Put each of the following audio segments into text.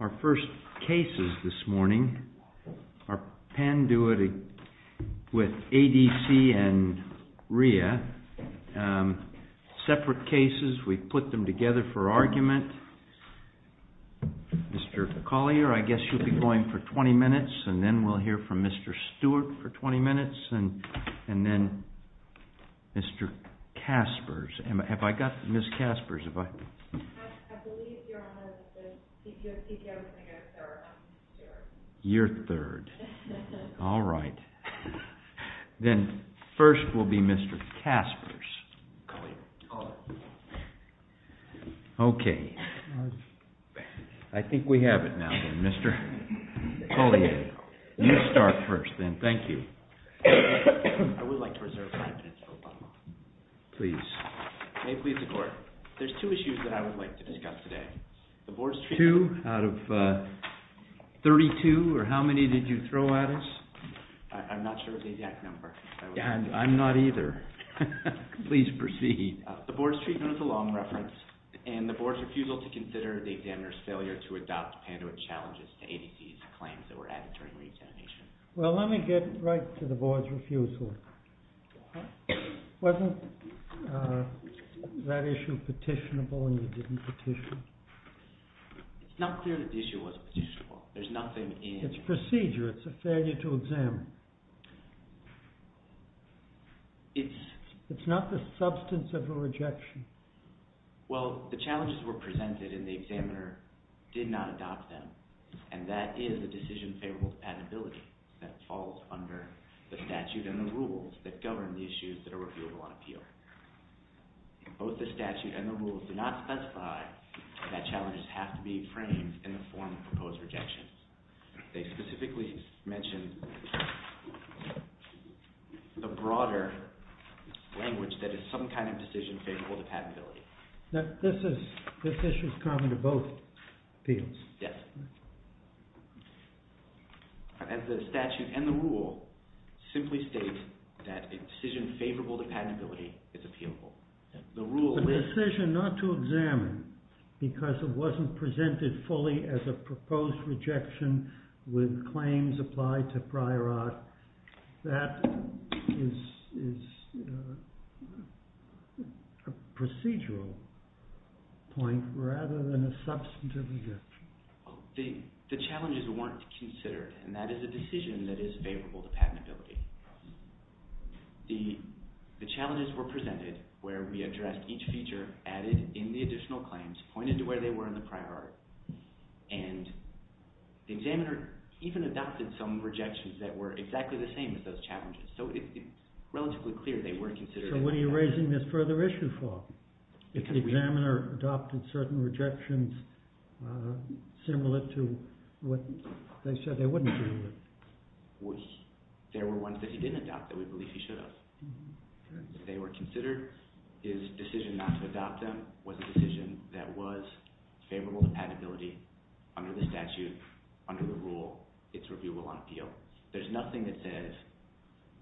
Our first cases this morning are PANDUIT with ADC and RIA, separate cases. We put them together for argument. Mr. Collier, I guess you'll be going for 20 minutes, and then we'll hear from Mr. Stewart for 20 minutes, and then Mr. Kaspers. Have I got Ms. Kaspers? You're third. All right. Then first will be Mr. Kaspers. Okay. I think we have it now, then. Mr. Collier, you start first, then. Thank you. I would like to reserve five minutes for Obama. Please. May it please the Court. There's two issues that I would like to discuss today. Two out of 32, or how many did you throw at us? I'm not sure of the exact number. I'm not either. Please proceed. The Board's treatment is a long reference, and the Board's failure to adopt PANDUIT challenges to ADC's claims that were added during re-examination. Well, let me get right to the Board's refusal. Wasn't that issue petitionable, and you didn't petition? It's not clear that the issue was petitionable. There's nothing in it. It's procedure. It's a failure to examine. It's not the substance of a rejection. Well, the challenges presented in the examiner did not adopt them, and that is a decision favorable to patentability that falls under the statute and the rules that govern the issues that are reviewable on appeal. Both the statute and the rules do not specify that challenges have to be framed in the form of proposed rejection. They specifically mention the broader language that is some kind of decision favorable to patentability. This issue is common to both appeals? Yes. As the statute and the rule simply state that a decision favorable to patentability is appealable. The decision not to examine because it wasn't presented fully as a proposed rejection with claims applied to prior art, that is a procedural point rather than a substantive rejection. The challenges weren't considered, and that is a decision that is favorable to patentability. The challenges were presented where we addressed each feature, added in the additional claims, pointed to where they were in the prior art, and the examiner even adopted some rejections that were exactly the same as those challenges. So it's relatively clear they weren't considered. So what are you raising this further issue for? If the examiner adopted certain rejections similar to what they said they wouldn't do? There were ones that he didn't adopt that we believe he should have. They were considered his decision not to adopt them was a decision that was favorable to patentability under the statute, under the rule, it's reviewable on appeal. There's nothing that says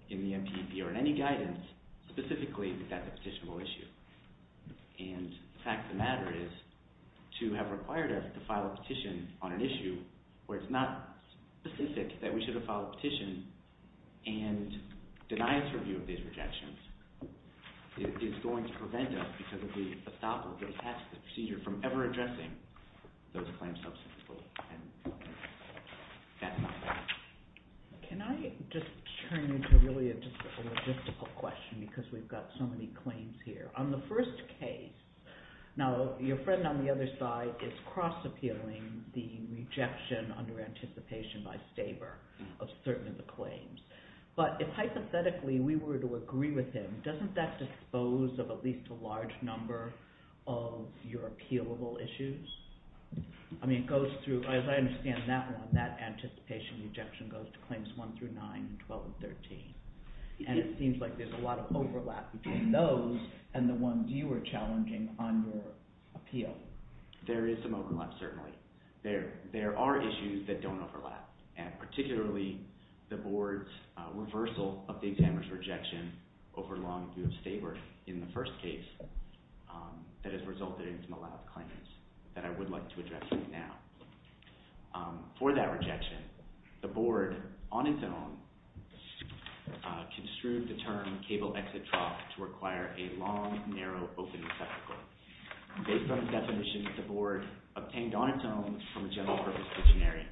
in the MPP or in any guidance specifically that that's a petitionable issue. And the fact of the matter is to have required us to file a petition on an issue where it's not specific that we is going to prevent us because if we adopt or get past the procedure from ever addressing those claims substantively. Can I just turn into really just a logistical question because we've got so many claims here. On the first case, now your friend on the other side is cross appealing the rejection under anticipation by Staber of certain of the claims. But if hypothetically we were to agree with him, doesn't that dispose of at least a large number of your appealable issues? I mean it goes through, as I understand that one, that anticipation rejection goes to claims 1 through 9, 12 and 13. And it seems like there's a lot of overlap between those and the ones you were challenging on your appeal. There is some overlap, certainly. There are issues that don't overlap. And particularly the board's reversal of the examiner's rejection over long view of Staber in the first case that has resulted into a lot of claims that I would like to address right now. For that rejection, the board on its own construed the term cable exit trough to require a long definition that the board obtained on its own from a general purpose dictionary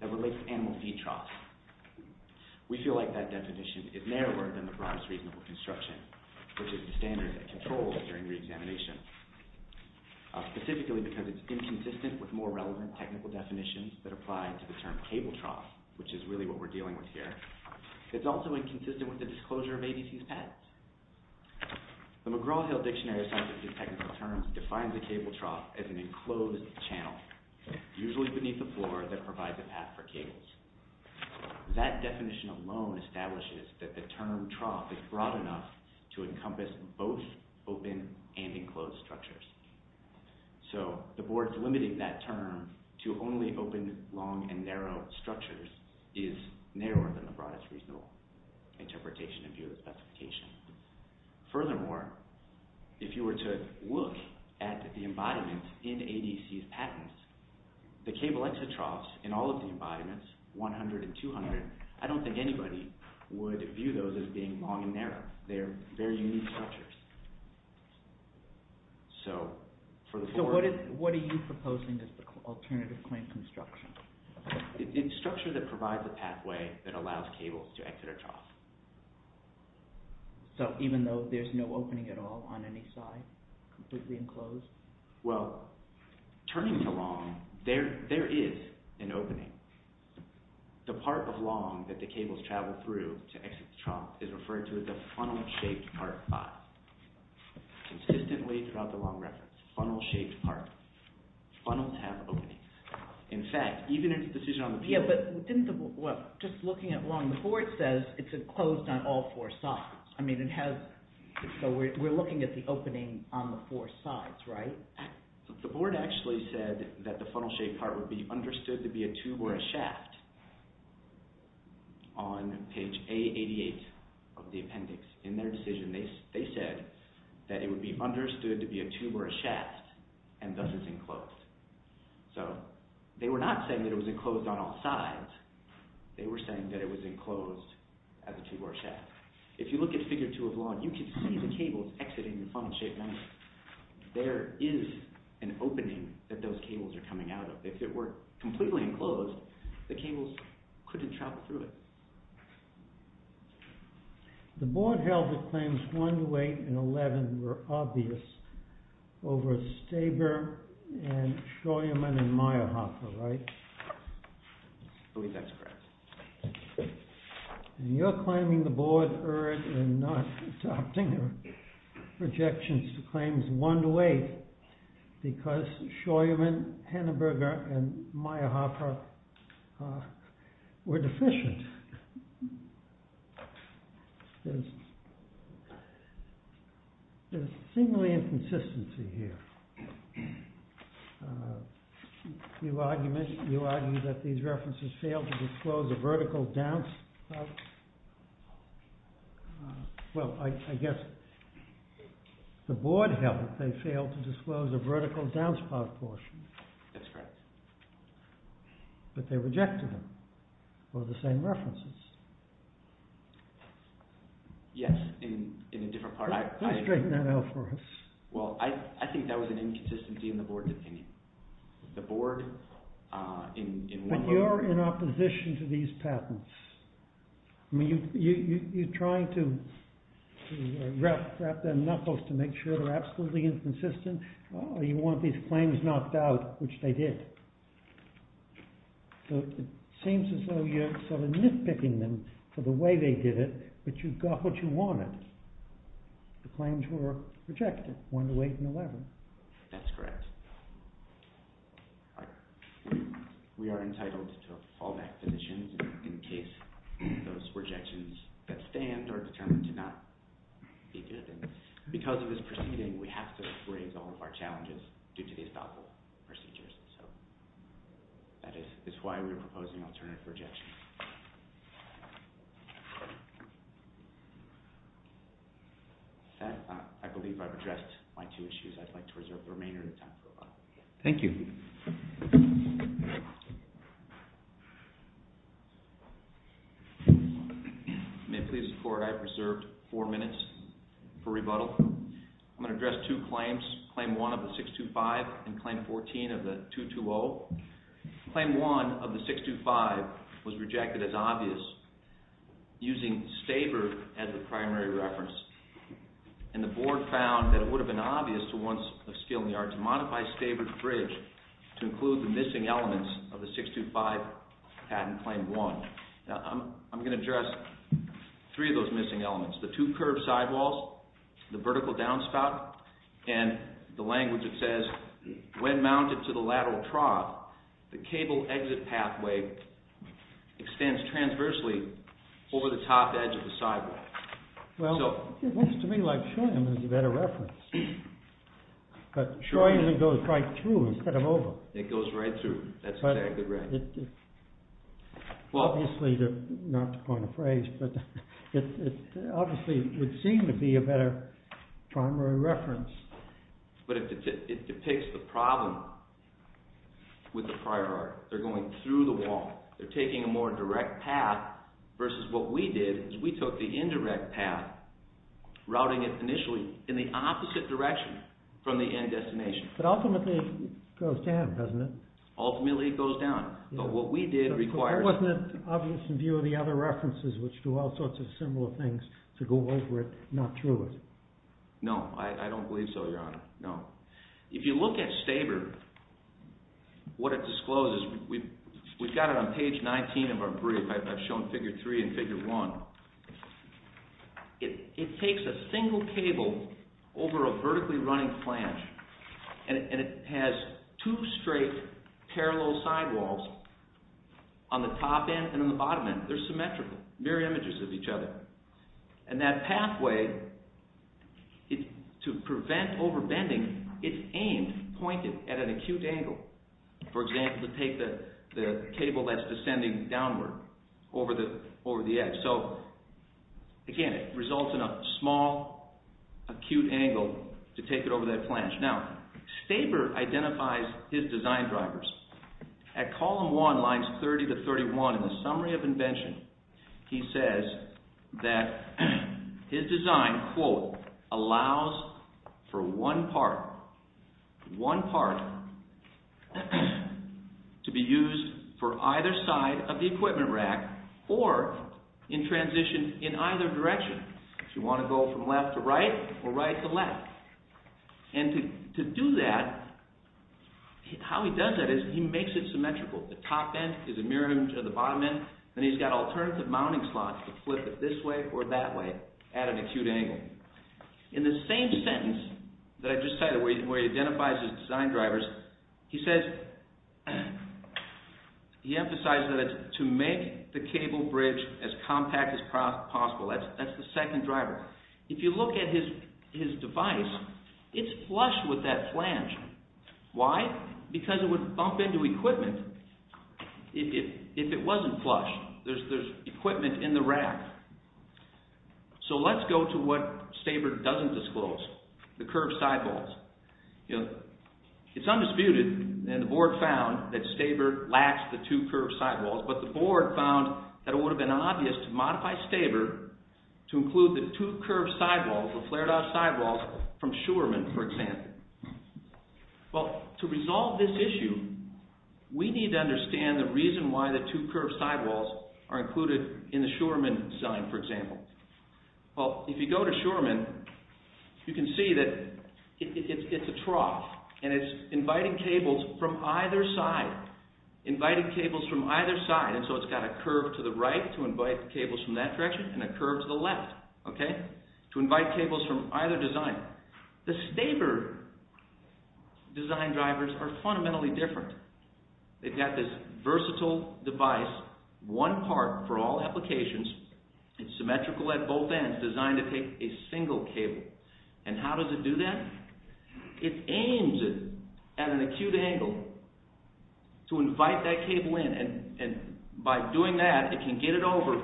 that relates to animal feed troughs. We feel like that definition is narrower than the broadest reasonable construction, which is the standard that controls during re-examination. Specifically because it's inconsistent with more relevant technical definitions that apply to the term cable trough, which is really what we're dealing with here. It's also inconsistent with the definition of a trough as an enclosed channel, usually beneath the floor that provides a path for cables. That definition alone establishes that the term trough is broad enough to encompass both open and enclosed structures. So the board's limiting that term to only open long and narrow structures is narrower than the broadest reasonable interpretation of your embodiment in ADC's patents. The cable exit troughs in all of the embodiments, 100 and 200, I don't think anybody would view those as being long and narrow. They're very unique structures. So for the board... So what are you proposing as the alternative claim construction? It's a structure that provides a pathway that allows cables to exit a trough. So even though there's no opening at all on any side? Completely enclosed? Well, turning to long, there is an opening. The part of long that the cables travel through to exit the trough is referred to as a funnel-shaped part 5. Consistently throughout the long reference, funnel-shaped part. Funnels have openings. In fact, even in the decision on the... Yeah, but just looking at long, the board says it's enclosed on all four sides. So we're looking at the opening on the four sides, right? The board actually said that the funnel-shaped part would be understood to be a tube or a shaft on page A88 of the appendix. In their decision, they said that it would be understood to be a tube or a shaft and thus it's enclosed. So they were not saying that it was enclosed on all sides. They were saying that it was enclosed as a tube or a shaft. If you look at figure 2 of long, you can see the cables exiting the funnel-shaped one. There is an opening that those cables are coming out of. If it were completely enclosed, the cables couldn't travel through it. The board held that claims 1 to 8 and 11 were obvious over Staber and Schoeman and I believe that's correct. And you're claiming the board erred in not adopting the projections to claims 1 to 8 because Schoeman, Henneberger and Mayerhofer were deficient. There is a seemingly inconsistency here. You argue that these references failed to disclose a vertical downspout. Well, I guess the board held that they failed to disclose a vertical downspout portion. That's correct. But they rejected them for the same references. Yes, in a different part. Can you straighten that out for us? Well, I think that was an inconsistency in the board's opinion. The board in one way... But you're in opposition to these patents. I mean, you're trying to wrap their knuckles to make sure they're absolutely inconsistent. You want these claims knocked out, which they did. So it seems as though you're sort of nitpicking them for the way they did it, but you got what you wanted. The claims were rejected, 1 to 8 and 11. That's correct. We are entitled to fallback positions in case those projections that stand are determined to not be good. And because of this proceeding, we have to raise all of our challenges due to the estoppel procedures. So that is why we are proposing alternative projections. With that, I believe I've addressed my two issues. I'd like to reserve the remainder of the time for the lobby. Thank you. Thank you. May it please the court, I have reserved four minutes for rebuttal. I'm going to address two claims, Claim 1 of the 625 and Claim 14 of the 220. Claim 1 of the 625 was rejected as obvious, using Stavert as the primary reference. And the board found that it would have been obvious to ones of skill in the arts to modify Stavert's bridge to include the missing elements of the 625 patent Claim 1. Now, I'm going to address three of those missing elements. The two curved sidewalls, the vertical downspout, and the language that says, when mounted to the lateral trough, the cable exit pathway extends transversely over the top edge of the sidewalk. Well, it looks to me like Scheunen is a better reference. But Scheunen goes right through instead of over. It goes right through. That's exactly right. Obviously, not to coin a phrase, but it obviously would seem to be a better primary reference. But it depicts the problem with the prior art. They're going through the wall. They're routing it initially in the opposite direction from the end destination. But ultimately, it goes down, doesn't it? Ultimately, it goes down. But what we did require... But wasn't it obvious in view of the other references, which do all sorts of similar things, to go over it, not through it? No, I don't believe so, Your Honor. No. If you look at Stavert, what it discloses, we've got it on page 19 of our brief. I've shown figure 3 and figure 1. It takes a single cable over a vertically running flange, and it has two straight parallel sidewalls on the top end and on the bottom end. They're symmetrical, mirror images of each other. And that pathway, to prevent overbending, it's aimed, pointed at an acute angle. For example, to take the cable that's descending downward over the edge. So, again, it results in a small, acute angle to take it over that flange. Now, Stavert identifies his design drivers. At column 1, lines 30 to 31, in the summary of invention, he says that his design, quote, one part to be used for either side of the equipment rack or in transition in either direction. If you want to go from left to right or right to left. And to do that, how he does that is he makes it symmetrical. The top end is a mirror image of the bottom end, and he's got alternative mounting slots to flip it this way or that way at an acute angle. In the same sentence that I just cited, where he identifies his design drivers, he says, he emphasizes that it's to make the cable bridge as compact as possible. That's the second driver. If you look at his device, it's flush with that flange. Why? Because it would bump into equipment if it wasn't flush. There's equipment in the rack. So let's go to what Stavert doesn't disclose, the curved sidewalls. It's undisputed, and the board found, that Stavert lacks the two curved sidewalls, but the board found that it would have been obvious to modify Stavert to include the two curved sidewalls, the flared-out sidewalls from Shurman, for example. Well, to resolve this issue, we need to understand the reason why the two curved sidewalls are included in the Shurman design, for example. Well, if you go to Shurman, you can see that it's a trough, and it's inviting cables from either side, inviting cables from either side, and so it's got a curve to the right to invite cables from that direction and a curve to the left, okay, to invite cables from either design. The Stavert design drivers are fundamentally different. They've got this versatile device, one part for all applications. It's symmetrical at both ends, designed to take a single cable. And how does it do that? It aims it at an acute angle to invite that cable in, and by doing that, it can get it over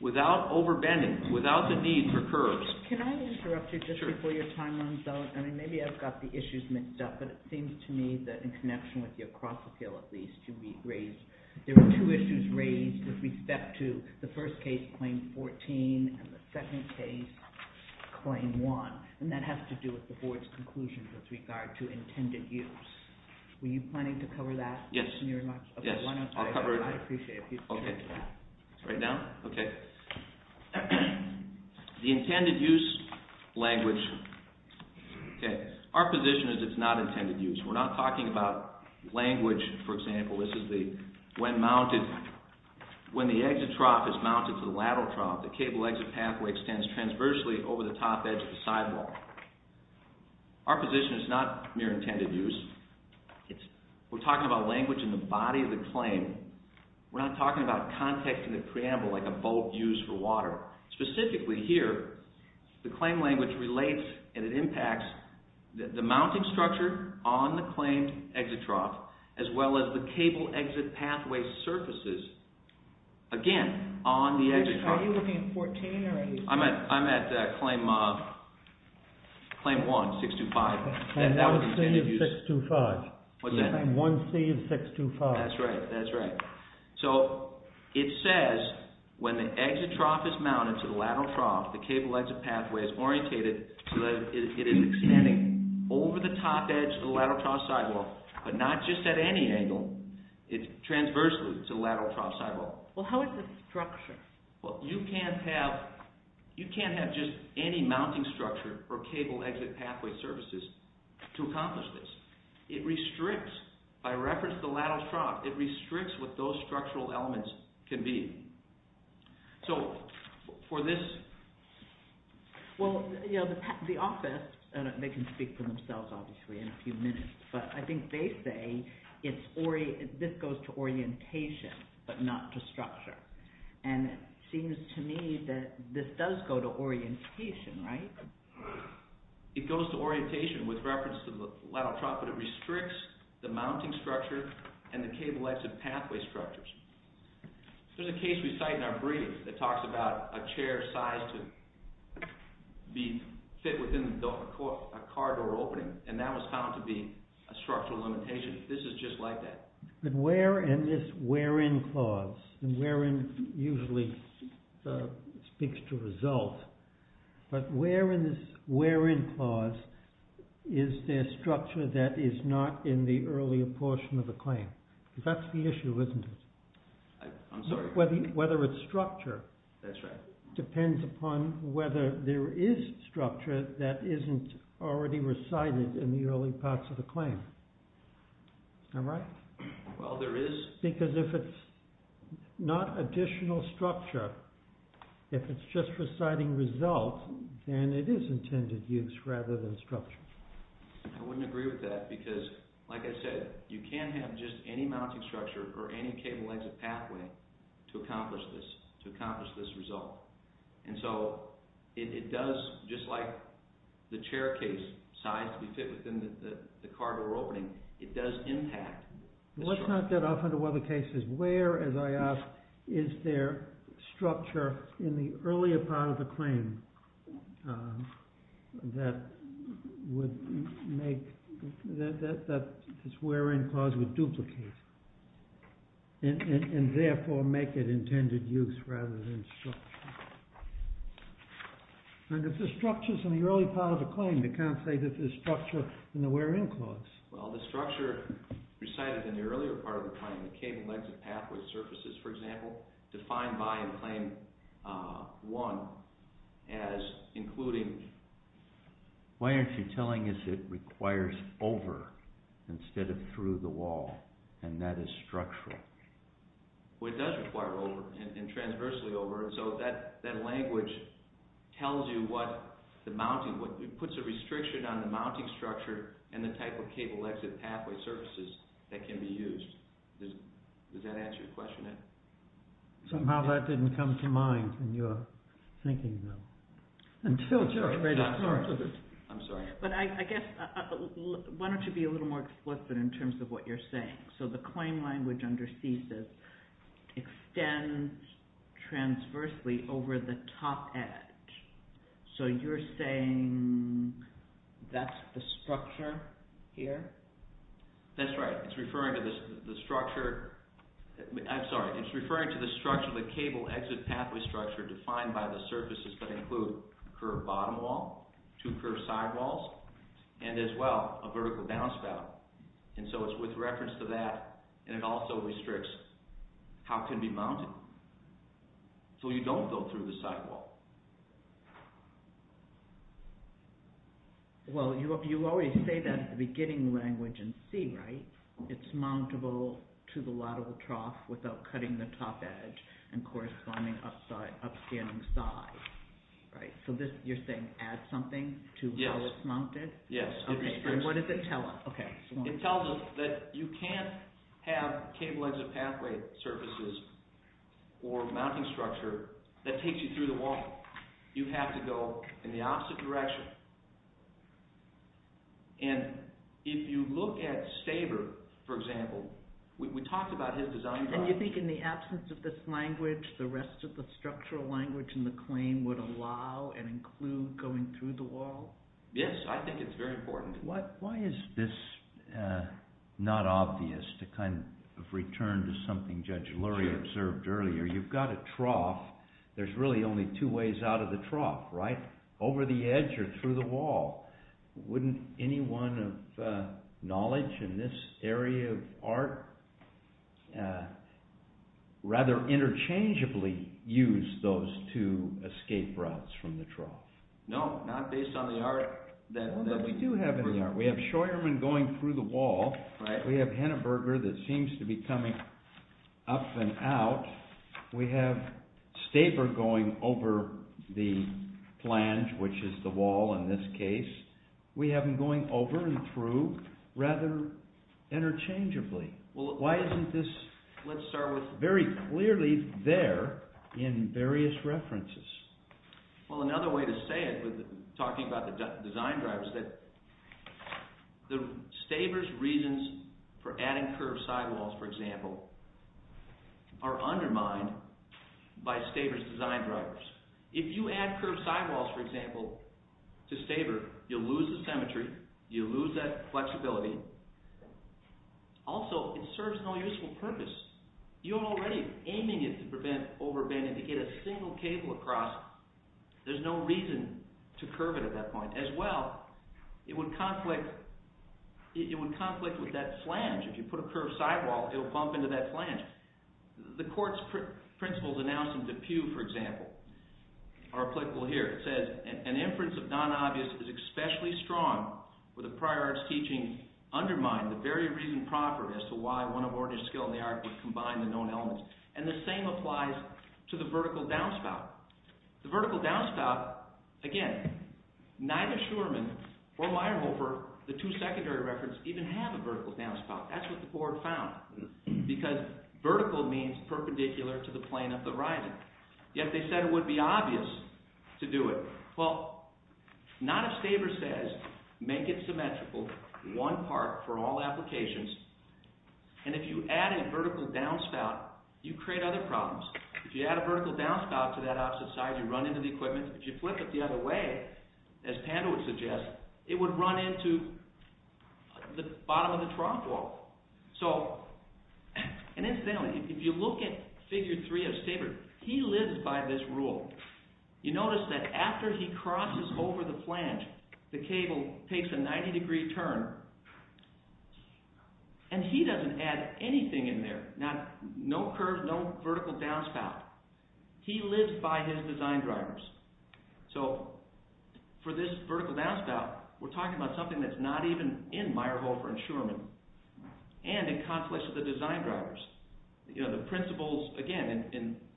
without overbending, without the need for curves. Can I interrupt you just before your time runs out? I mean, maybe I've got the issues mixed up, but it seems to me that in connection with your cross-appeal, at least, you raised there were two issues raised with respect to the first case, Claim 14, and the second case, Claim 1, and that has to do with the Board's conclusions with regard to intended use. Were you planning to cover that in your remarks? Yes, I'll cover it. I'd appreciate it if you could cover that. Right now? Okay. The intended use language. Our position is it's not intended use. We're not talking about language, for example. This is when the exit trough is mounted to the lateral trough, the cable exit pathway extends transversely over the top edge of the sidewall. Our position is not mere intended use. We're talking about language in the body of the claim. We're not talking about context in the preamble like a boat used for water. Specifically here, the claim language relates and it impacts the mounting structure on the claimed exit trough, as well as the cable exit pathway surfaces, again, on the exit trough. Are you looking at 14 or 18? I'm at Claim 1, 625. Claim 1C of 625. What's that? Claim 1C of 625. That's right, that's right. So it says when the exit trough is mounted to the lateral trough, the cable exit pathway is orientated so that it is extending over the top edge of the lateral trough sidewall, but not just at any angle. It's transversely to the lateral trough sidewall. Well, how is the structure? Well, you can't have just any mounting structure or cable exit pathway surfaces to accomplish this. It restricts, by reference to the lateral trough, it restricts what those structural elements can be. Well, the office, they can speak for themselves obviously in a few minutes, but I think they say this goes to orientation, but not to structure. And it seems to me that this does go to orientation, right? It goes to orientation with reference to the lateral trough, but it restricts the mounting structure and the cable exit pathway structures. There's a case we cite in our brief that talks about a chair sized to be fit within a car door opening, and that was found to be a structural limitation. This is just like that. But where in this where-in clause, and where-in usually speaks to result, but where in this where-in clause is there structure that is not in the earlier portion of the claim? That's the issue, isn't it? I'm sorry? Whether it's structure. That's right. Depends upon whether there is structure that isn't already recited in the early parts of the claim. Am I right? Well, there is. Because if it's not additional structure, if it's just reciting result, then it is intended use rather than structure. I wouldn't agree with that because, like I said, you can't have just any mounting structure or any cable exit pathway to accomplish this, to accomplish this result. And so it does, just like the chair case sized to be fit within the car door opening, it does impact the structure. Let's not get off into other cases. Where, as I asked, is there structure in the earlier part of the claim that would make, that this where-in clause would duplicate and therefore make it intended use rather than structure? And if the structure's in the early part of the claim, you can't say that there's structure in the where-in clause. Well, the structure recited in the earlier part of the claim, the cable exit pathway surfaces, for example, defined by in Claim 1 as including... Why aren't you telling us it requires over instead of through the wall, and that is structural? Well, it does require over and transversely over, and so that language tells you what the mounting, it puts a restriction on the mounting structure and the type of cable exit pathway surfaces that can be used. Does that answer your question, Ed? Somehow that didn't come to mind in your thinking, though. I'm sorry. But I guess, why don't you be a little more explicit in terms of what you're saying? So the claim language under CESA extends transversely over the top edge. So you're saying that's the structure here? That's right. It's referring to the structure... I'm sorry. It's referring to the structure of the cable exit pathway structure defined by the surfaces that include a curved bottom wall, two curved sidewalls, and as well, a vertical downspout. And so it's with reference to that, and it also restricts how it can be mounted. So you don't go through the sidewall. Well, you already say that at the beginning of the language in C, right? It's mountable to the lateral trough without cutting the top edge and corresponding upstanding sides. So you're saying add something to how it's mounted? Yes. And what does it tell us? It tells us that you can't have cable exit pathway surfaces or mounting structure that takes you through the wall. You have to go in the opposite direction. And if you look at Staber, for example, we talked about his design... And you think in the absence of this language, the rest of the structural language in the claim would allow and include going through the wall? Yes, I think it's very important. Why is this not obvious to kind of return to something Judge Lurie observed earlier? You've got a trough. There's really only two ways out of the trough, right? Over the edge or through the wall. Wouldn't anyone of knowledge in this area of art rather interchangeably use those two escape routes from the trough? No, not based on the art. We do have an art. We have Scheuermann going through the wall. We have Henneberger that seems to be coming up and out. We have Staber going over the flange, which is the wall in this case. We have him going over and through rather interchangeably. Why isn't this very clearly there in various references? Well, another way to say it, talking about the design drivers, is that Staber's reasons for adding curved sidewalls, for example, are undermined by Staber's design drivers. If you add curved sidewalls, for example, to Staber, you'll lose the symmetry. You'll lose that flexibility. Also, it serves no useful purpose. You're already aiming it to prevent overbending to get a single cable across. There's no reason to curve it at that point. As well, it would conflict with that flange. If you put a curved sidewall, it'll bump into that flange. The court's principles announced in Depew, for example, are applicable here. It says, an inference of non-obvious is especially strong for the prior art's teaching undermined the very reason proper as to why one aborted skill in the art would combine the known elements. And the same applies to the vertical downspout. The vertical downspout, again, neither Shurman or Weyerhofer, the two secondary reference, even have a vertical downspout. That's what the court found. Because vertical means perpendicular to the plane of the horizon. Yet they said it would be obvious to do it. Well, not if Staber says, make it symmetrical, one part for all applications. And if you add a vertical downspout, you create other problems. If you add a vertical downspout to that opposite side, you run into the equipment. If you flip it the other way, as Pando would suggest, it would run into the bottom of the trough wall. So, and incidentally, if you look at Figure 3 of Staber, he lives by this rule. You notice that after he crosses over the flange, the cable takes a 90 degree turn, and he doesn't add anything in there. No curve, no vertical downspout. He lives by his design drivers. So, for this vertical downspout, we're talking about something that's not even in Weyerhofer and Shurman, and in conflicts with the design drivers. The principles, again,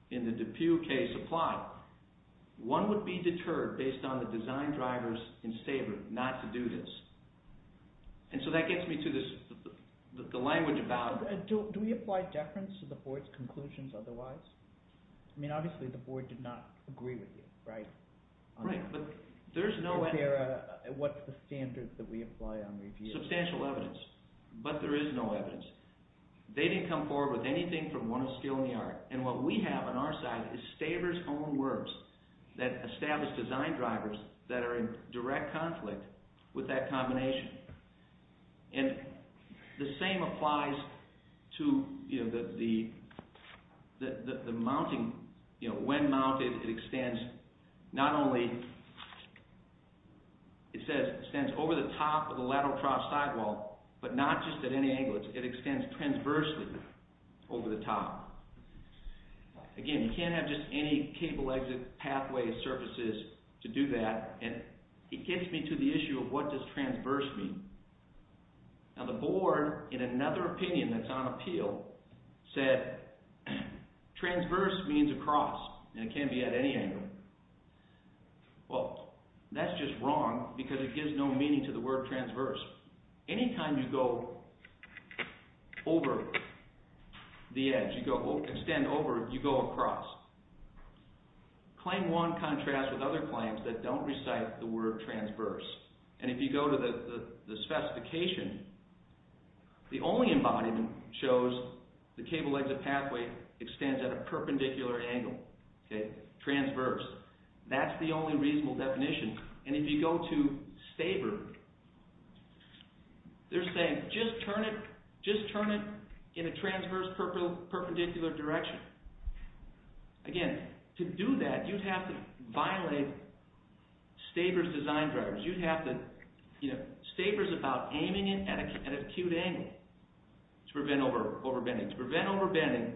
in the Depew case apply. One would be deterred, based on the design drivers in Staber, not to do this. And so that gets me to the language about... Do we apply deference to the board's conclusions otherwise? I mean, obviously, the board did not agree with you, right? Right, but there's no evidence. What's the standard that we apply on these cases? Substantial evidence, but there is no evidence. They didn't come forward with anything from one of skill and the art. And what we have on our side is Staber's own works that establish design drivers that are in direct conflict with that combination. And the same applies to the mounting. When mounted, it extends not only... It extends over the top of the lateral cross sidewall, but not just at any angle. It extends transversely over the top. Again, you can't have just any cable exit pathway surfaces to do that, and it gets me to the issue of what does transverse mean. Now, the board, in another opinion that's on appeal, said transverse means across, and it can be at any angle. Well, that's just wrong, because it gives no meaning to the word transverse. Anytime you go over the edge, you go extend over, you go across. Claim 1 contrasts with other claims that don't recite the word transverse. And if you go to the specification, the only embodiment shows the cable exit pathway extends at a perpendicular angle. Okay, transverse. That's the only reasonable definition. And if you go to Staber, they're saying, just turn it in a transverse perpendicular direction. Again, to do that, you'd have to violate Staber's design drivers. Staber's about aiming it at an acute angle to prevent overbending. To prevent overbending,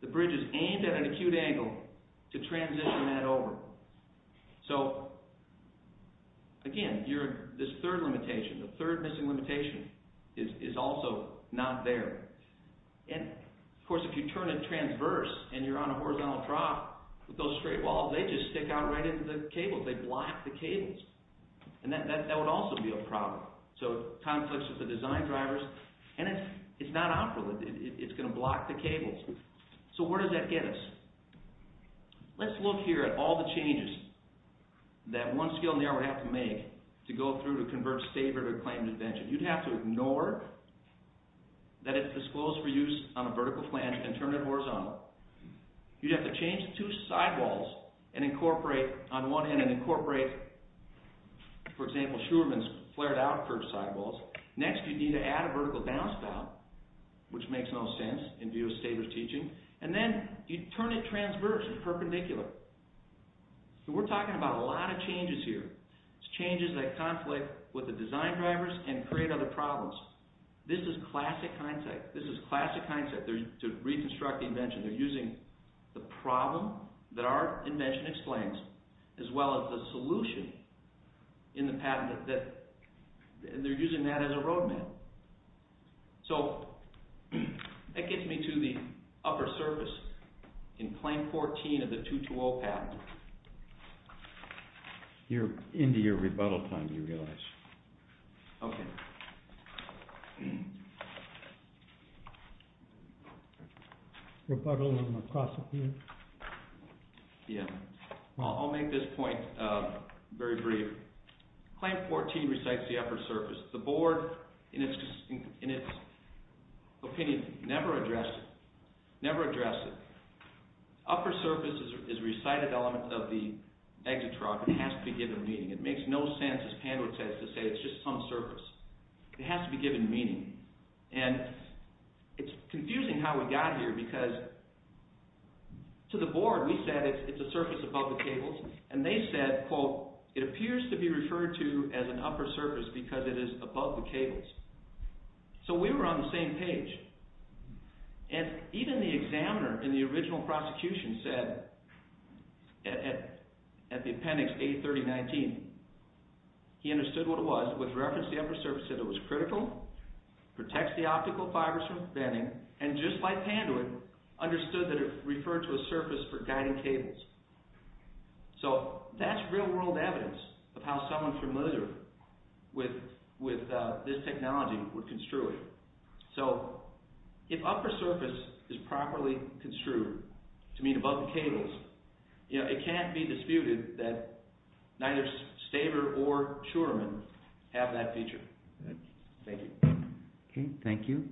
the bridge is aimed at an acute angle to transition that over. So, again, this third limitation, the third missing limitation, is also not there. And, of course, if you turn it transverse and you're on a horizontal trough, with those straight walls, they just stick out right into the cables. They block the cables. And that would also be a problem. So, conflicts with the design drivers. And it's not operable. It's going to block the cables. So where does that get us? Let's look here at all the changes that one skill narrower would have to make to go through to convert Staber to a claimant intervention. You'd have to ignore that it's disclosed for use on a vertical flange and turn it horizontal. You'd have to change the two sidewalls on one end and incorporate, for example, Schuermann's flared-out curved sidewalls. Next, you'd need to add a vertical downspout, which makes no sense in view of Staber's teaching. And then you'd turn it transverse and perpendicular. So we're talking about a lot of changes here. It's changes that conflict with the design drivers and create other problems. This is classic hindsight. This is classic hindsight to reconstruct the invention. They're using the problem that our invention explains, as well as the solution in the patent. They're using that as a road map. So that gets me to the upper surface in Claim 14 of the 220 patent. I'll make this point very brief. Claim 14 recites the upper surface. The board, in its opinion, never addressed it. Never addressed it. Upper surface is a recited element of the exit truck. It has to be given meaning. It makes no sense, as Pandwood says, to say it's just some surface. It has to be given meaning. And it's confusing how we got here because to the board, we said it's a surface above the cables. And they said, quote, it appears to be referred to as an upper surface because it is above the cables. So we were on the same page. And even the examiner in the original prosecution said at the appendix A3019, he understood what it was, with reference to the upper surface, said it was critical, protects the optical fibers from bending, and just like Pandwood, understood that it referred to a surface for guiding cables. So that's real-world evidence of how someone familiar with this technology would construe it. So if upper surface is properly construed, to mean above the cables, it can't be disputed that neither Staver or Tuerman have that feature. Thank you. Okay, thank you.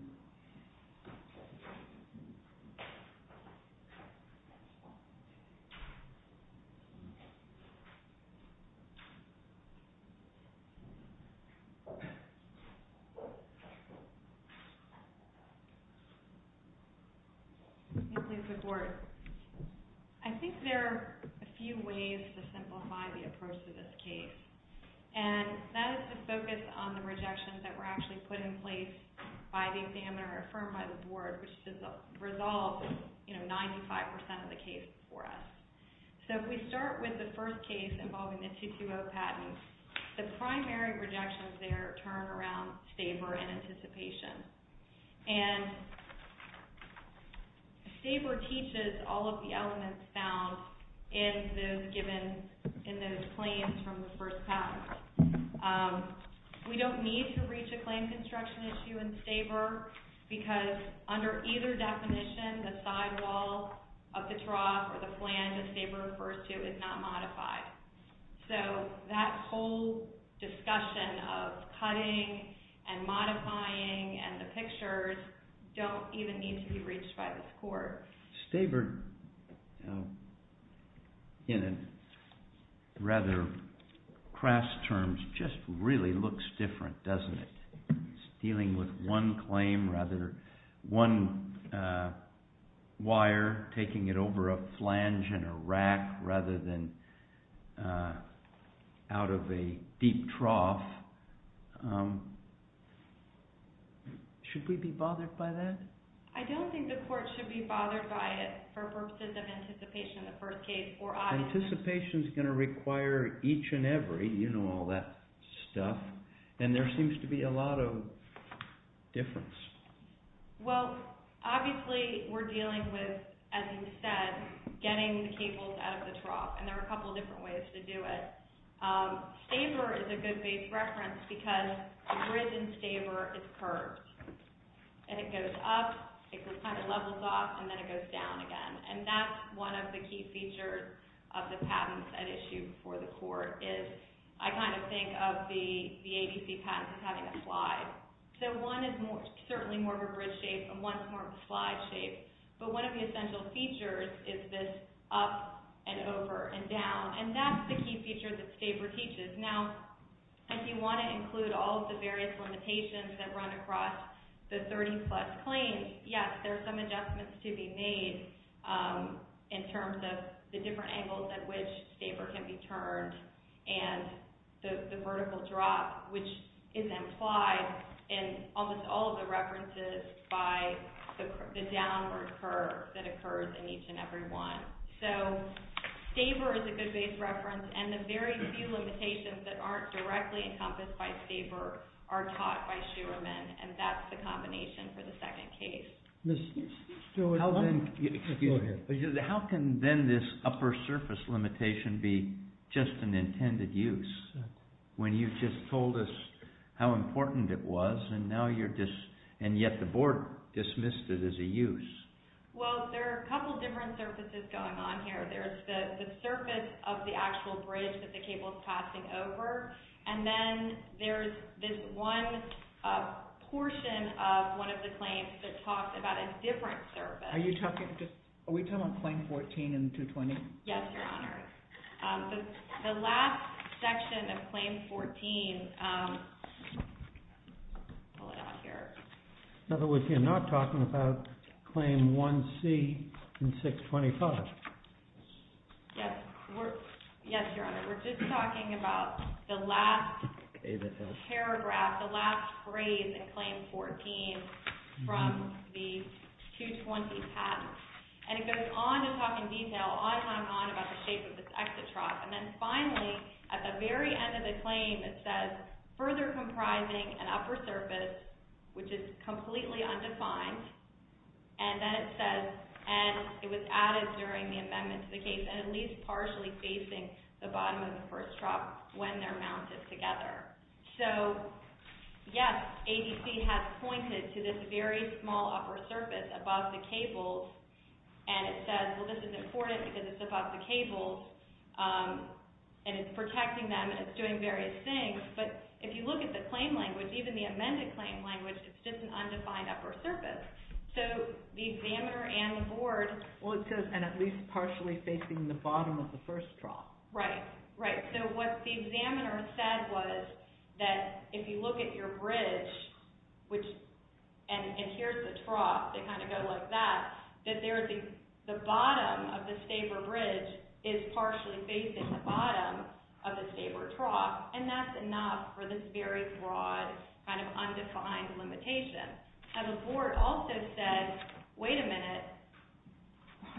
I think there are a few ways to simplify the approach to this case. And that is to focus on the rejections that were actually put in place by the examiner or affirmed by the board, which just resolved, you know, 95% of the case for us. So if we start with the first case involving the 220 patent, the primary rejections there turn around Staver and anticipation. And Staver teaches all of the elements found in those claims from the first patent. We don't need to reach a claim construction issue in Staver because under either definition, the sidewall of the trough or the flange that Staver refers to is not modified. So that whole discussion of cutting and modifying and the pictures don't even need to be reached by this court. Staver, you know, in rather crass terms, just really looks different, doesn't it? It's dealing with one claim rather than one wire taking it over a flange and a rack rather than out of a deep trough. Should we be bothered by that? I don't think the court should be bothered by it for purposes of anticipation in the first case. Anticipation is going to require each and every, you know, all that stuff. And there seems to be a lot of difference. Well, obviously we're dealing with, as you said, getting the cables out of the trough. And there are a couple of different ways to do it. Staver is a good base reference because the grid in Staver is curved. And it goes up, it kind of levels off, and then it goes down again. And that's one of the key features of the patents at issue before the court is I kind of think of the ABC patents as having a slide. So one is certainly more of a grid shape and one is more of a slide shape. But one of the essential features is this up and over and down. And that's the key feature that Staver teaches. Now, if you want to include all of the various limitations that run across the 30-plus claims, yes, there are some adjustments to be made in terms of the different angles at which Staver can be turned and the vertical drop, which is implied in almost all of the references by the downward curve that occurs in each and every one. So Staver is a good base reference. And the very few limitations that aren't directly encompassed by Staver are taught by Shewerman, and that's the combination for the second case. How can then this upper surface limitation be just an intended use when you just told us how important it was and yet the board dismissed it as a use? Well, there are a couple different surfaces going on here. There's the surface of the actual bridge that the cable is passing over, and then there's this one portion of one of the claims that talks about a different surface. Are we talking about Claim 14 and 220? Yes, Your Honor. The last section of Claim 14, I'll pull it out here. In other words, you're not talking about Claim 1C and 625. Yes, Your Honor. We're just talking about the last paragraph, the last phrase in Claim 14 from the 220 patent. And it goes on to talk in detail on and on about the shape of this exit trough. And then finally, at the very end of the claim, it says, further comprising an upper surface, which is completely undefined, and then it says, and it was added during the amendment to the case, and at least partially facing the bottom of the first trough when they're mounted together. So, yes, ADC has pointed to this very small upper surface above the cables, and it says, well, this is important because it's above the cables and it's protecting them and it's doing various things, but if you look at the claim language, even the amended claim language, it's just an undefined upper surface. So, the examiner and the board... Well, it says, and at least partially facing the bottom of the first trough. Right, right. So, what the examiner said was that if you look at your bridge, and here's the trough, they kind of go like that, that the bottom of the staver bridge is partially facing the bottom of the staver trough, and that's enough for this very broad kind of undefined limitation. Now, the board also said, wait a minute,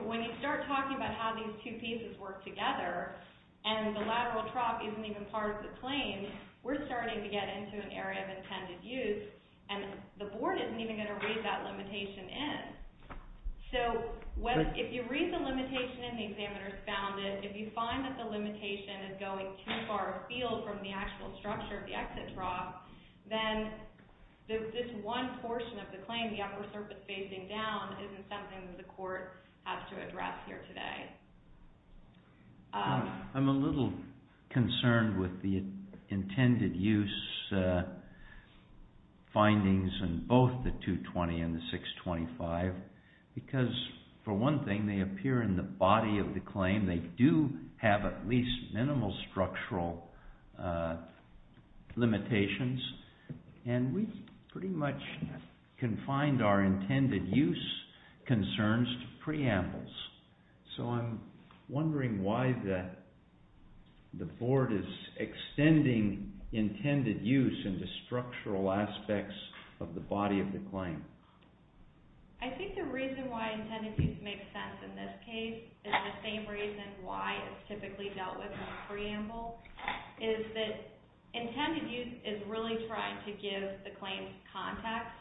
when you start talking about how these two pieces work together and the lateral trough isn't even part of the claim, we're starting to get into an area of intended use, and the board isn't even going to read that limitation in. So, if you read the limitation and the examiner's found it, if you find that the limitation is going too far afield from the actual structure of the exit trough, then this one portion of the claim, the upper surface facing down, isn't something that the court has to address here today. I'm a little concerned with the intended use findings in both the 220 and the 625, because, for one thing, they appear in the body of the claim, they do have at least minimal structural limitations, and we pretty much confined our intended use concerns to preambles. So, I'm wondering why the board is extending intended use into structural aspects of the body of the claim. I think the reason why intended use makes sense in this case and the same reason why it's typically dealt with in a preamble is that intended use is really trying to give the claims context,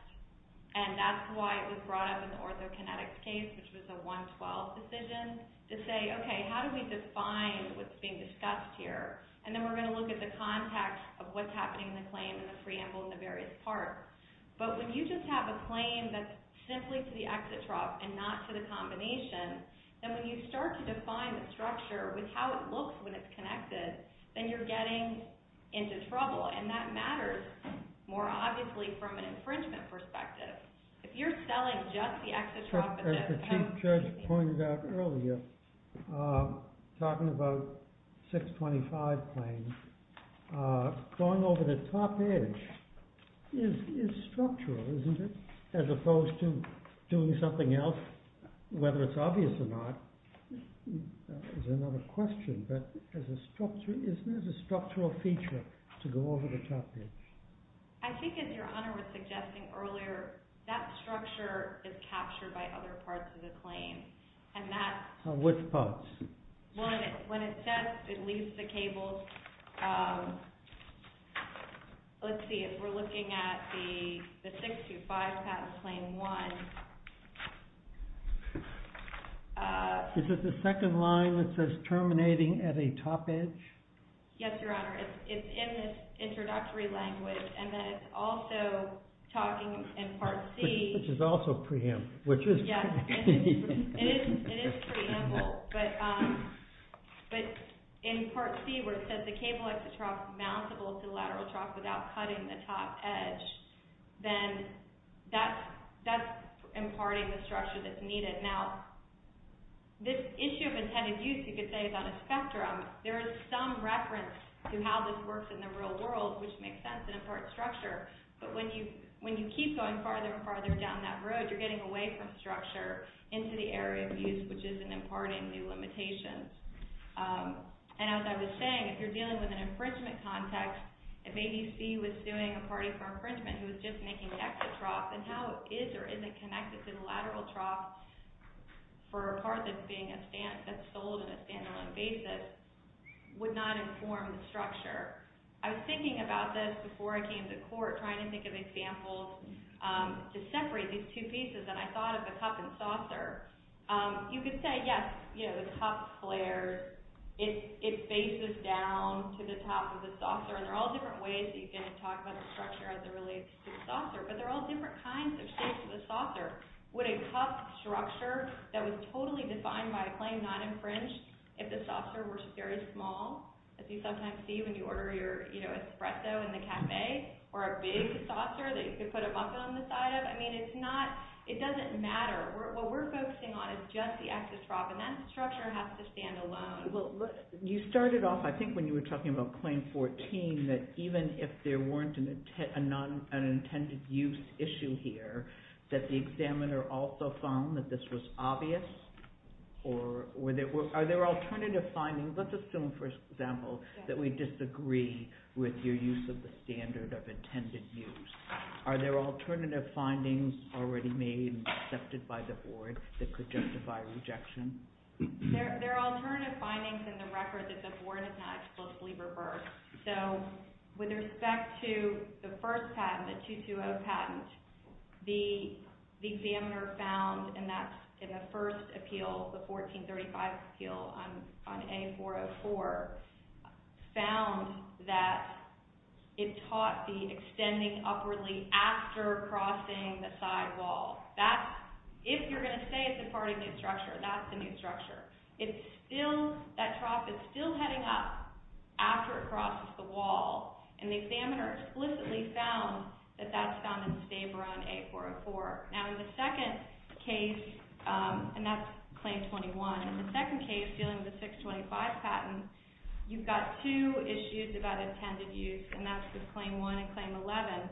and that's why it was brought up in the orthokinetic case, which was a 112 decision, to say, okay, how do we define what's being discussed here? And then we're going to look at the context of what's happening in the claim and the preamble and the various parts. But when you just have a claim that's simply to the exit trough and not to the combination, then when you start to define the structure with how it looks when it's connected, then you're getting into trouble, and that matters more obviously from an infringement perspective. If you're selling just the exit trough... As the Chief Judge pointed out earlier, talking about 625 claims, going over the top edge is structural, isn't it? As opposed to doing something else, whether it's obvious or not is another question, but isn't there a structural feature to go over the top edge? I think, as Your Honor was suggesting earlier, that structure is captured by other parts of the claim, and that's... Which parts? When it says it leaves the cables, let's see, if we're looking at the 625 patent claim 1... Is it the second line that says terminating at a top edge? Yes, Your Honor, it's in the introductory language, and then it's also talking in Part C... Which is also preamble, which is... Yes, it is preamble, but in Part C where it says the cable exit trough is mountable to the lateral trough without cutting the top edge, then that's imparting the structure that's needed. Now, this issue of intended use, you could say, is on a spectrum. There is some reference to how this works in the real world, which makes sense in a part structure, but when you keep going farther and farther down that road, you're getting away from structure into the area of use, which isn't imparting new limitations. And as I was saying, if you're dealing with an infringement context, if ABC was suing a party for infringement who was just making the exit trough, then how it is or isn't connected to the lateral trough for a part that's being sold in a standalone basis would not inform the structure. I was thinking about this before I came to court, trying to think of examples to separate these two pieces, and I thought of a cup and saucer. You could say, yes, the cup flares, it faces down to the top of the saucer, and there are all different ways that you can talk about the structure as it relates to the saucer, but there are all different kinds of shapes of the saucer. Would a cup structure that was totally defined by a claim not infringed, if the saucer were very small, as you sometimes see when you order your espresso in the cafe, or a big saucer that you could put a mug on the side of, it doesn't matter. What we're focusing on is just the exit trough, and that structure has to stand alone. You started off, I think when you were talking about Claim 14, that even if there weren't an intended use issue here, that the examiner also found that this was obvious? Are there alternative findings? Let's assume, for example, that we disagree with your use of the standard of intended use. Are there alternative findings already made and accepted by the Board that could justify rejection? There are alternative findings in the record that the Board has not explicitly reversed. With respect to the first patent, the 220 patent, the examiner found in the first appeal, the 1435 appeal on A404, found that it taught the extending upwardly after crossing the side wall. If you're going to say it's a part of the new structure, that's the new structure. That trough is still heading up after it crosses the wall, and the examiner explicitly found that that's found in the Staber on A404. Now in the second case, and that's Claim 21, in the second case dealing with the 625 patent, you've got two issues about intended use, and that's with Claim 1 and Claim 11.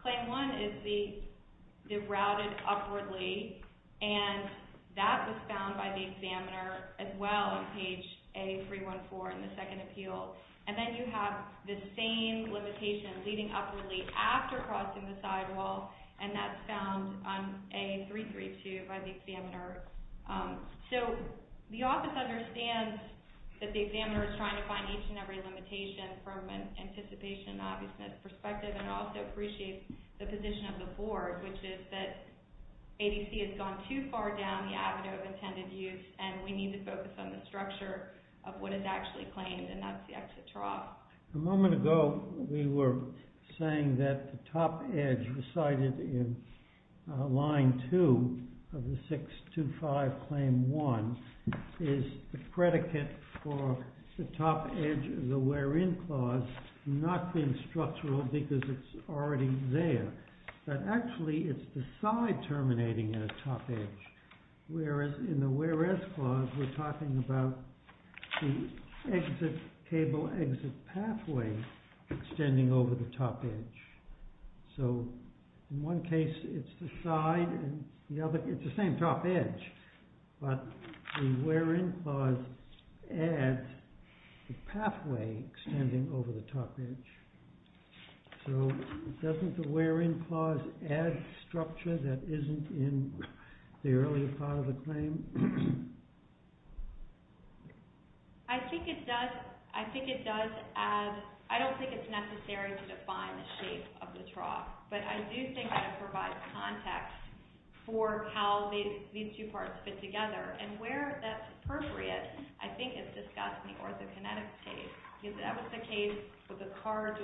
Claim 1 is the routed upwardly, and that was found by the examiner as well on page A314 in the second appeal. And then you have the same limitation leading upwardly after crossing the side wall, and that's found on A332 by the examiner. So the office understands that the examiner is trying to find each and every limitation from an anticipation and obviousness perspective, and also appreciates the position of the board, which is that ADC has gone too far down the avenue of intended use, and we need to focus on the structure of what is actually claimed, and that's the exit trough. A moment ago we were saying that the top edge recited in line 2 of the 625 Claim 1 is the predicate for the top edge of the where-in clause not being structural because it's already there, but actually it's the side terminating at a top edge, whereas in the where-as clause we're talking about the cable exit pathway extending over the top edge. So in one case it's the side, and in the other it's the same top edge, but the where-in clause adds the pathway extending over the top edge. So doesn't the where-in clause add structure that isn't in the earlier part of the claim? I don't think it's necessary to define the shape of the trough, but I do think that it provides context for how these two parts fit together, and where that's appropriate I think is discussed in the orthokinetic case, because that was the case with the car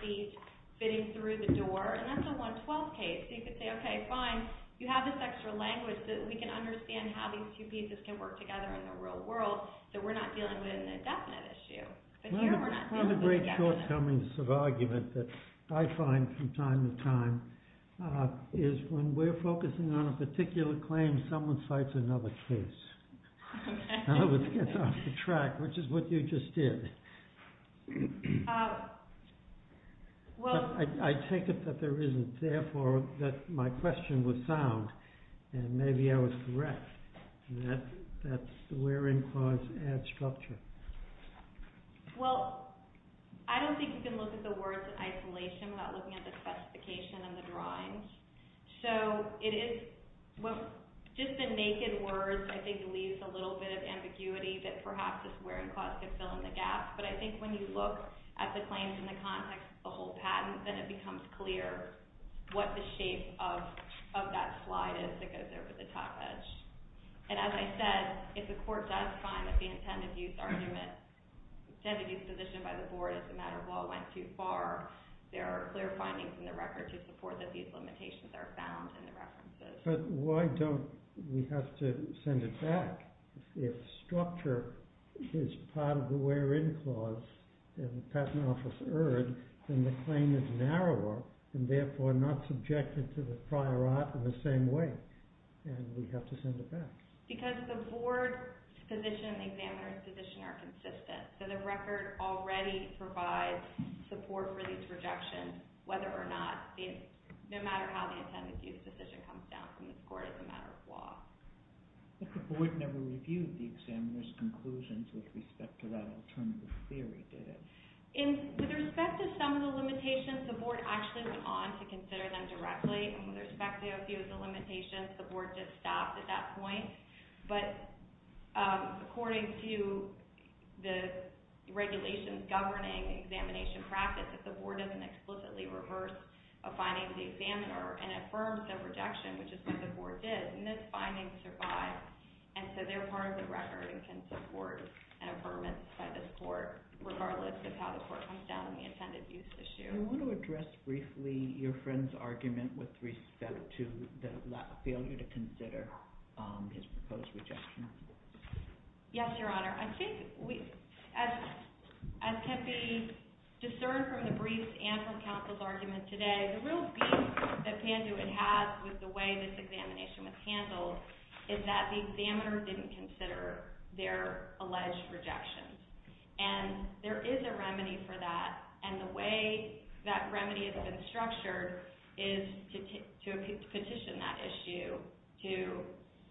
seat fitting through the door, and that's a 112 case, so you could say, OK, fine, you have this extra language so that we can understand how these two pieces can work together in the real world, so we're not dealing with an indefinite issue. But here we're not dealing with an indefinite issue. One of the great shortcomings of argument that I find from time to time is when we're focusing on a particular claim, someone cites another case. I hope this gets off the track, which is what you just did. I take it that my question was sound, and maybe I was correct, and that's the where-in clause adds structure. Well, I don't think you can look at the words isolation without looking at the classification of the drawings, so just the naked words I think leaves a little bit of ambiguity that perhaps this where-in clause could fill in the gap, but I think when you look at the claims in the context of the whole patent, then it becomes clear what the shape of that slide is that goes over the top edge. And as I said, if the court does find that the intended use position by the board as a matter of law went too far, there are clear findings in the record to support that these limitations are found in the references. But why don't we have to send it back? If structure is part of the where-in clause in the Patent Office Erd, then the claim is narrower, and therefore not subjected to the prior art in the same way, and we have to send it back. Because the board's position and the examiner's position are consistent, so the record already provides support for these rejections whether or not, no matter how the intended use position comes down from the court as a matter of law. But the board never reviewed the examiner's conclusions with respect to that alternative theory, did it? With respect to some of the limitations, the board actually went on to consider them directly, and with respect to a few of the limitations, the board just stopped at that point. But according to the regulations governing examination practice, if the board doesn't explicitly reverse a finding to the examiner and affirms the rejection, which is what the board did, and this finding survives, and so they're part of the record and can support an affirmance by this court, regardless of how the court comes down on the intended use issue. I want to address briefly your friend's argument with respect to the failure to consider his proposed rejection. Yes, Your Honor. I think as can be discerned from the briefs and from counsel's argument today, the real beef that Panduit has with the way this examination was handled is that the examiner didn't consider their alleged rejection. And there is a remedy for that, and the way that remedy has been structured is to petition that issue to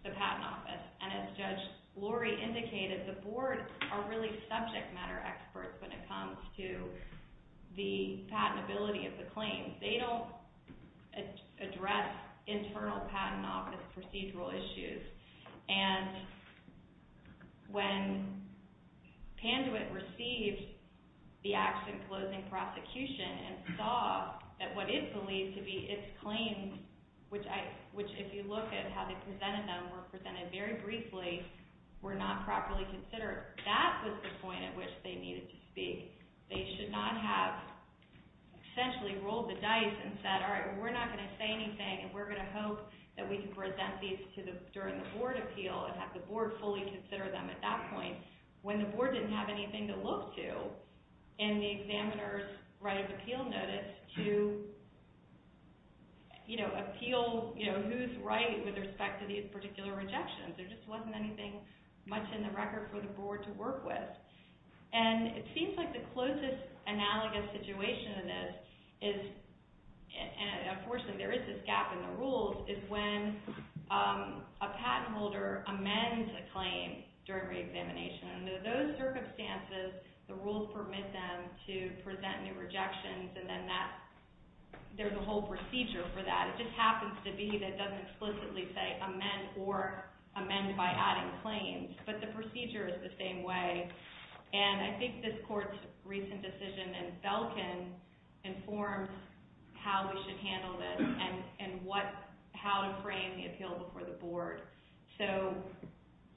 the Patent Office. And as Judge Lori indicated, the board are really subject matter experts when it comes to the patentability of the claims. They don't address internal Patent Office procedural issues. And when Panduit received the action closing prosecution and saw that what is believed to be its claims, which if you look at how they presented them, were presented very briefly, were not properly considered, that was the point at which they needed to speak. They should not have essentially rolled the dice and said, all right, we're not going to say anything and we're going to hope that we can present these during the board appeal and have the board fully consider them at that point, when the board didn't have anything to look to in the examiner's right of appeal notice to appeal who's right with respect to these particular rejections. There just wasn't anything much in the record for the board to work with. And it seems like the closest analogous situation to this is, and unfortunately there is this gap in the rules, is when a patent holder amends a claim during reexamination. Under those circumstances, the rules permit them to present new rejections and then there's a whole procedure for that. It just happens to be that it doesn't explicitly say amend or amend by adding claims. But the procedure is the same way and I think this court's recent decision in Belkin informed how we should handle this and how to frame the appeal before the board. So,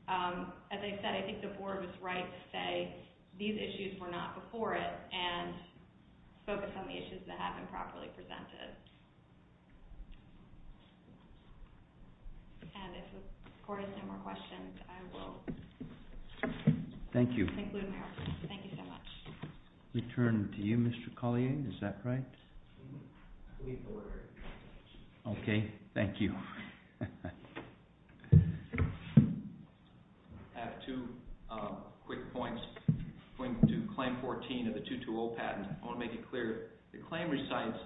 as I said, I think the board was right to say these issues were not before it and focus on the issues that have been properly presented. And if the court has no more questions, I will conclude my opening. Thank you. Thank you so much. Return to you, Mr. Collier, is that right? I believe so, Your Honor. Okay, thank you. I have two quick points. Point two, claim 14 of the 2-2-0 patent. I want to make it clear. The claim recites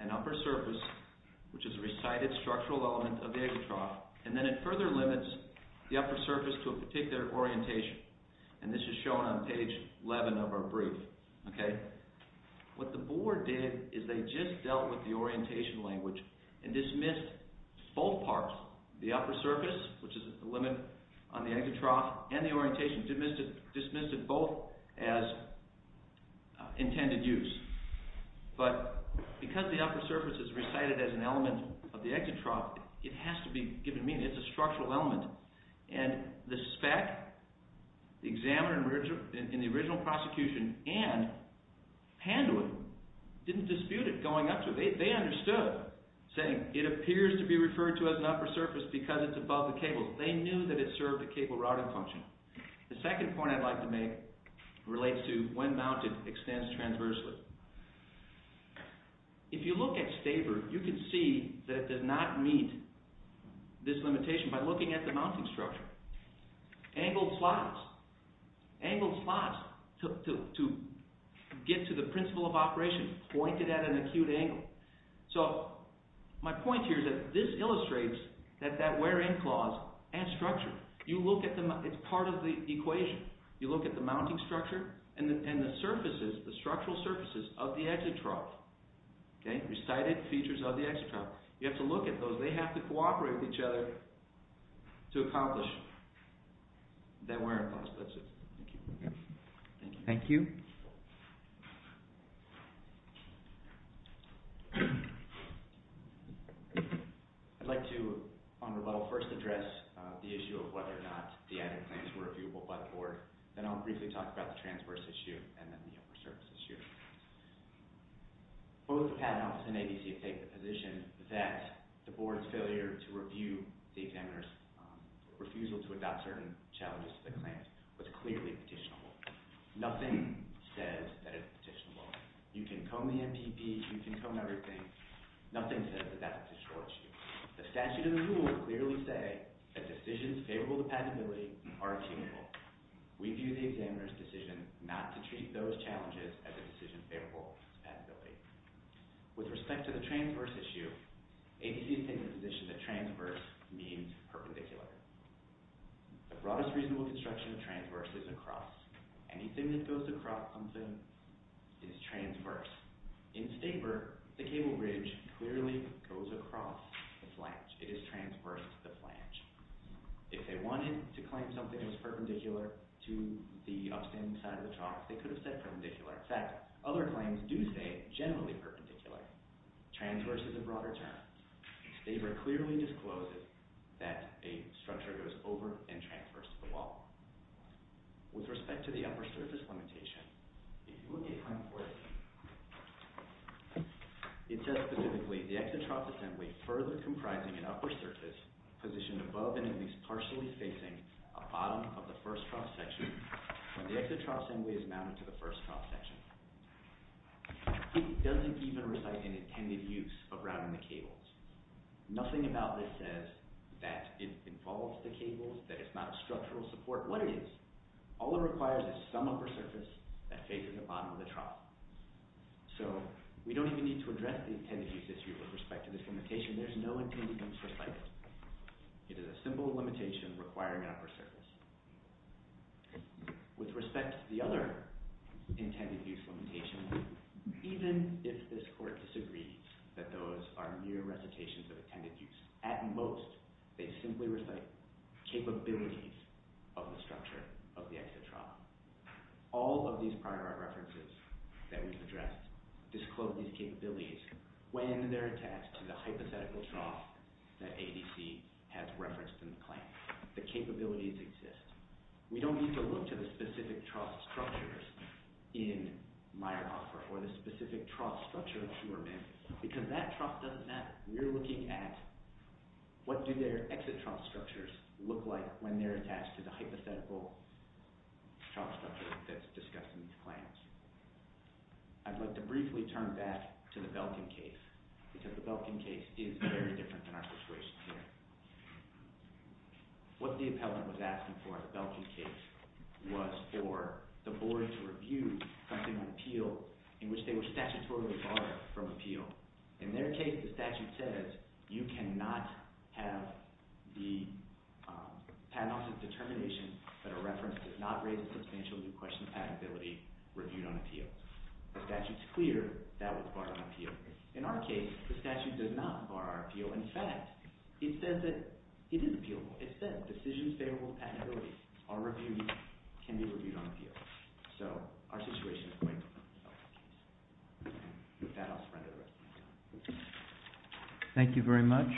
an upper surface, which is a recited structural element of the aggro trough, and then it further limits the upper surface to a particular orientation. And this is shown on page 11 of our brief, okay? What the board did is they just dealt with the orientation language and dismissed both parts, the upper surface, which is a limit on the aggro trough, and the orientation, dismissed it both as intended use. But because the upper surface is recited as an element of the aggro trough, it has to be given meaning. It's a structural element. And the spec, the examiner in the original prosecution, and Panduit didn't dispute it going up to it. They understood, saying it appears to be referred to as an upper surface because it's above the cable. They knew that it served a cable routing function. The second point I'd like to make relates to when mounted extends transversely. If you look at Staber, you can see that it does not meet this limitation by looking at the mounting structure. Angled slots, angled slots to get to the principle of operation, pointed at an acute angle. So my point here is that this illustrates that that wear-in clause and structure, you look at them, it's part of the equation. You look at the mounting structure and the surfaces, the structural surfaces of the exit trough, recited features of the exit trough. You have to look at those. They have to cooperate with each other to accomplish that wear-in clause. That's it. Thank you. Thank you. I'd like to, on rebuttal, first address the issue of whether or not the added claims were reviewable by the board. Then I'll briefly talk about the transverse issue and then the upper surface issue. Both the Patent Office and ABC have taken the position that the board's failure to review the examiner's refusal to adopt certain challenges to the claims was clearly petitionable. Nothing says that it's petitionable. You can comb the MPP. You can comb everything. Nothing says that that's a petitionable issue. The statute and the rule clearly say that decisions favorable to patentability are attainable. We view the examiner's decision not to treat those challenges as a decision favorable to patentability. With respect to the transverse issue, ABC has taken the position that transverse means perpendicular. The broadest reasonable construction of transverse is across. Anything that goes across something is transverse. In Staper, the cable bridge clearly goes across the flange. It is transverse to the flange. If they wanted to claim something that was perpendicular to the upstanding side of the trough, they could have said perpendicular. In fact, other claims do say generally perpendicular. Transverse is a broader term. Staper clearly discloses that a structure goes over and transverse to the wall. With respect to the upper surface limitation, if you look at claim 14, it says specifically, the exit trough assembly further comprising an upper surface positioned above and at least partially facing a bottom of the first trough section when the exit trough assembly is mounted to the first trough section. It doesn't even recite an intended use of routing the cables. Nothing about this says that it involves the cables, that it's not a structural support. What it is, all it requires is some upper surface that faces the bottom of the trough. So we don't even need to address the intended use issue with respect to this limitation. There's no intended use for sighting. It is a simple limitation requiring an upper surface. With respect to the other intended use limitations, even if this court disagrees that those are mere recitations of intended use, at most, they simply recite capabilities of the structure of the exit trough. All of these prior references that we've addressed disclose these capabilities when they're attached to the hypothetical trough that ADC has referenced in the claim. The capabilities exist. We don't need to look to the specific trough structures in Meyerhofer or the specific trough structure of Shumerman because that trough doesn't matter. We're looking at what do their exit trough structures look like when they're attached to the hypothetical trough structure that's discussed in these claims. I'd like to briefly turn back to the Belkin case because the Belkin case is very different than our situation here. What the appellant was asking for in the Belkin case was for the board to review something on appeal in which they were statutorily barred from appeal. In their case, the statute says you cannot have the patent officer's determination that a reference does not raise a substantial new question of patentability reviewed on appeal. The statute's clear that was barred on appeal. In our case, the statute does not bar our appeal. In fact, it says that it is appealable. It says decisions favorable to patentability can be reviewed on appeal. So our situation is quite different. With that, I'll surrender the rest of my time. Thank you very much.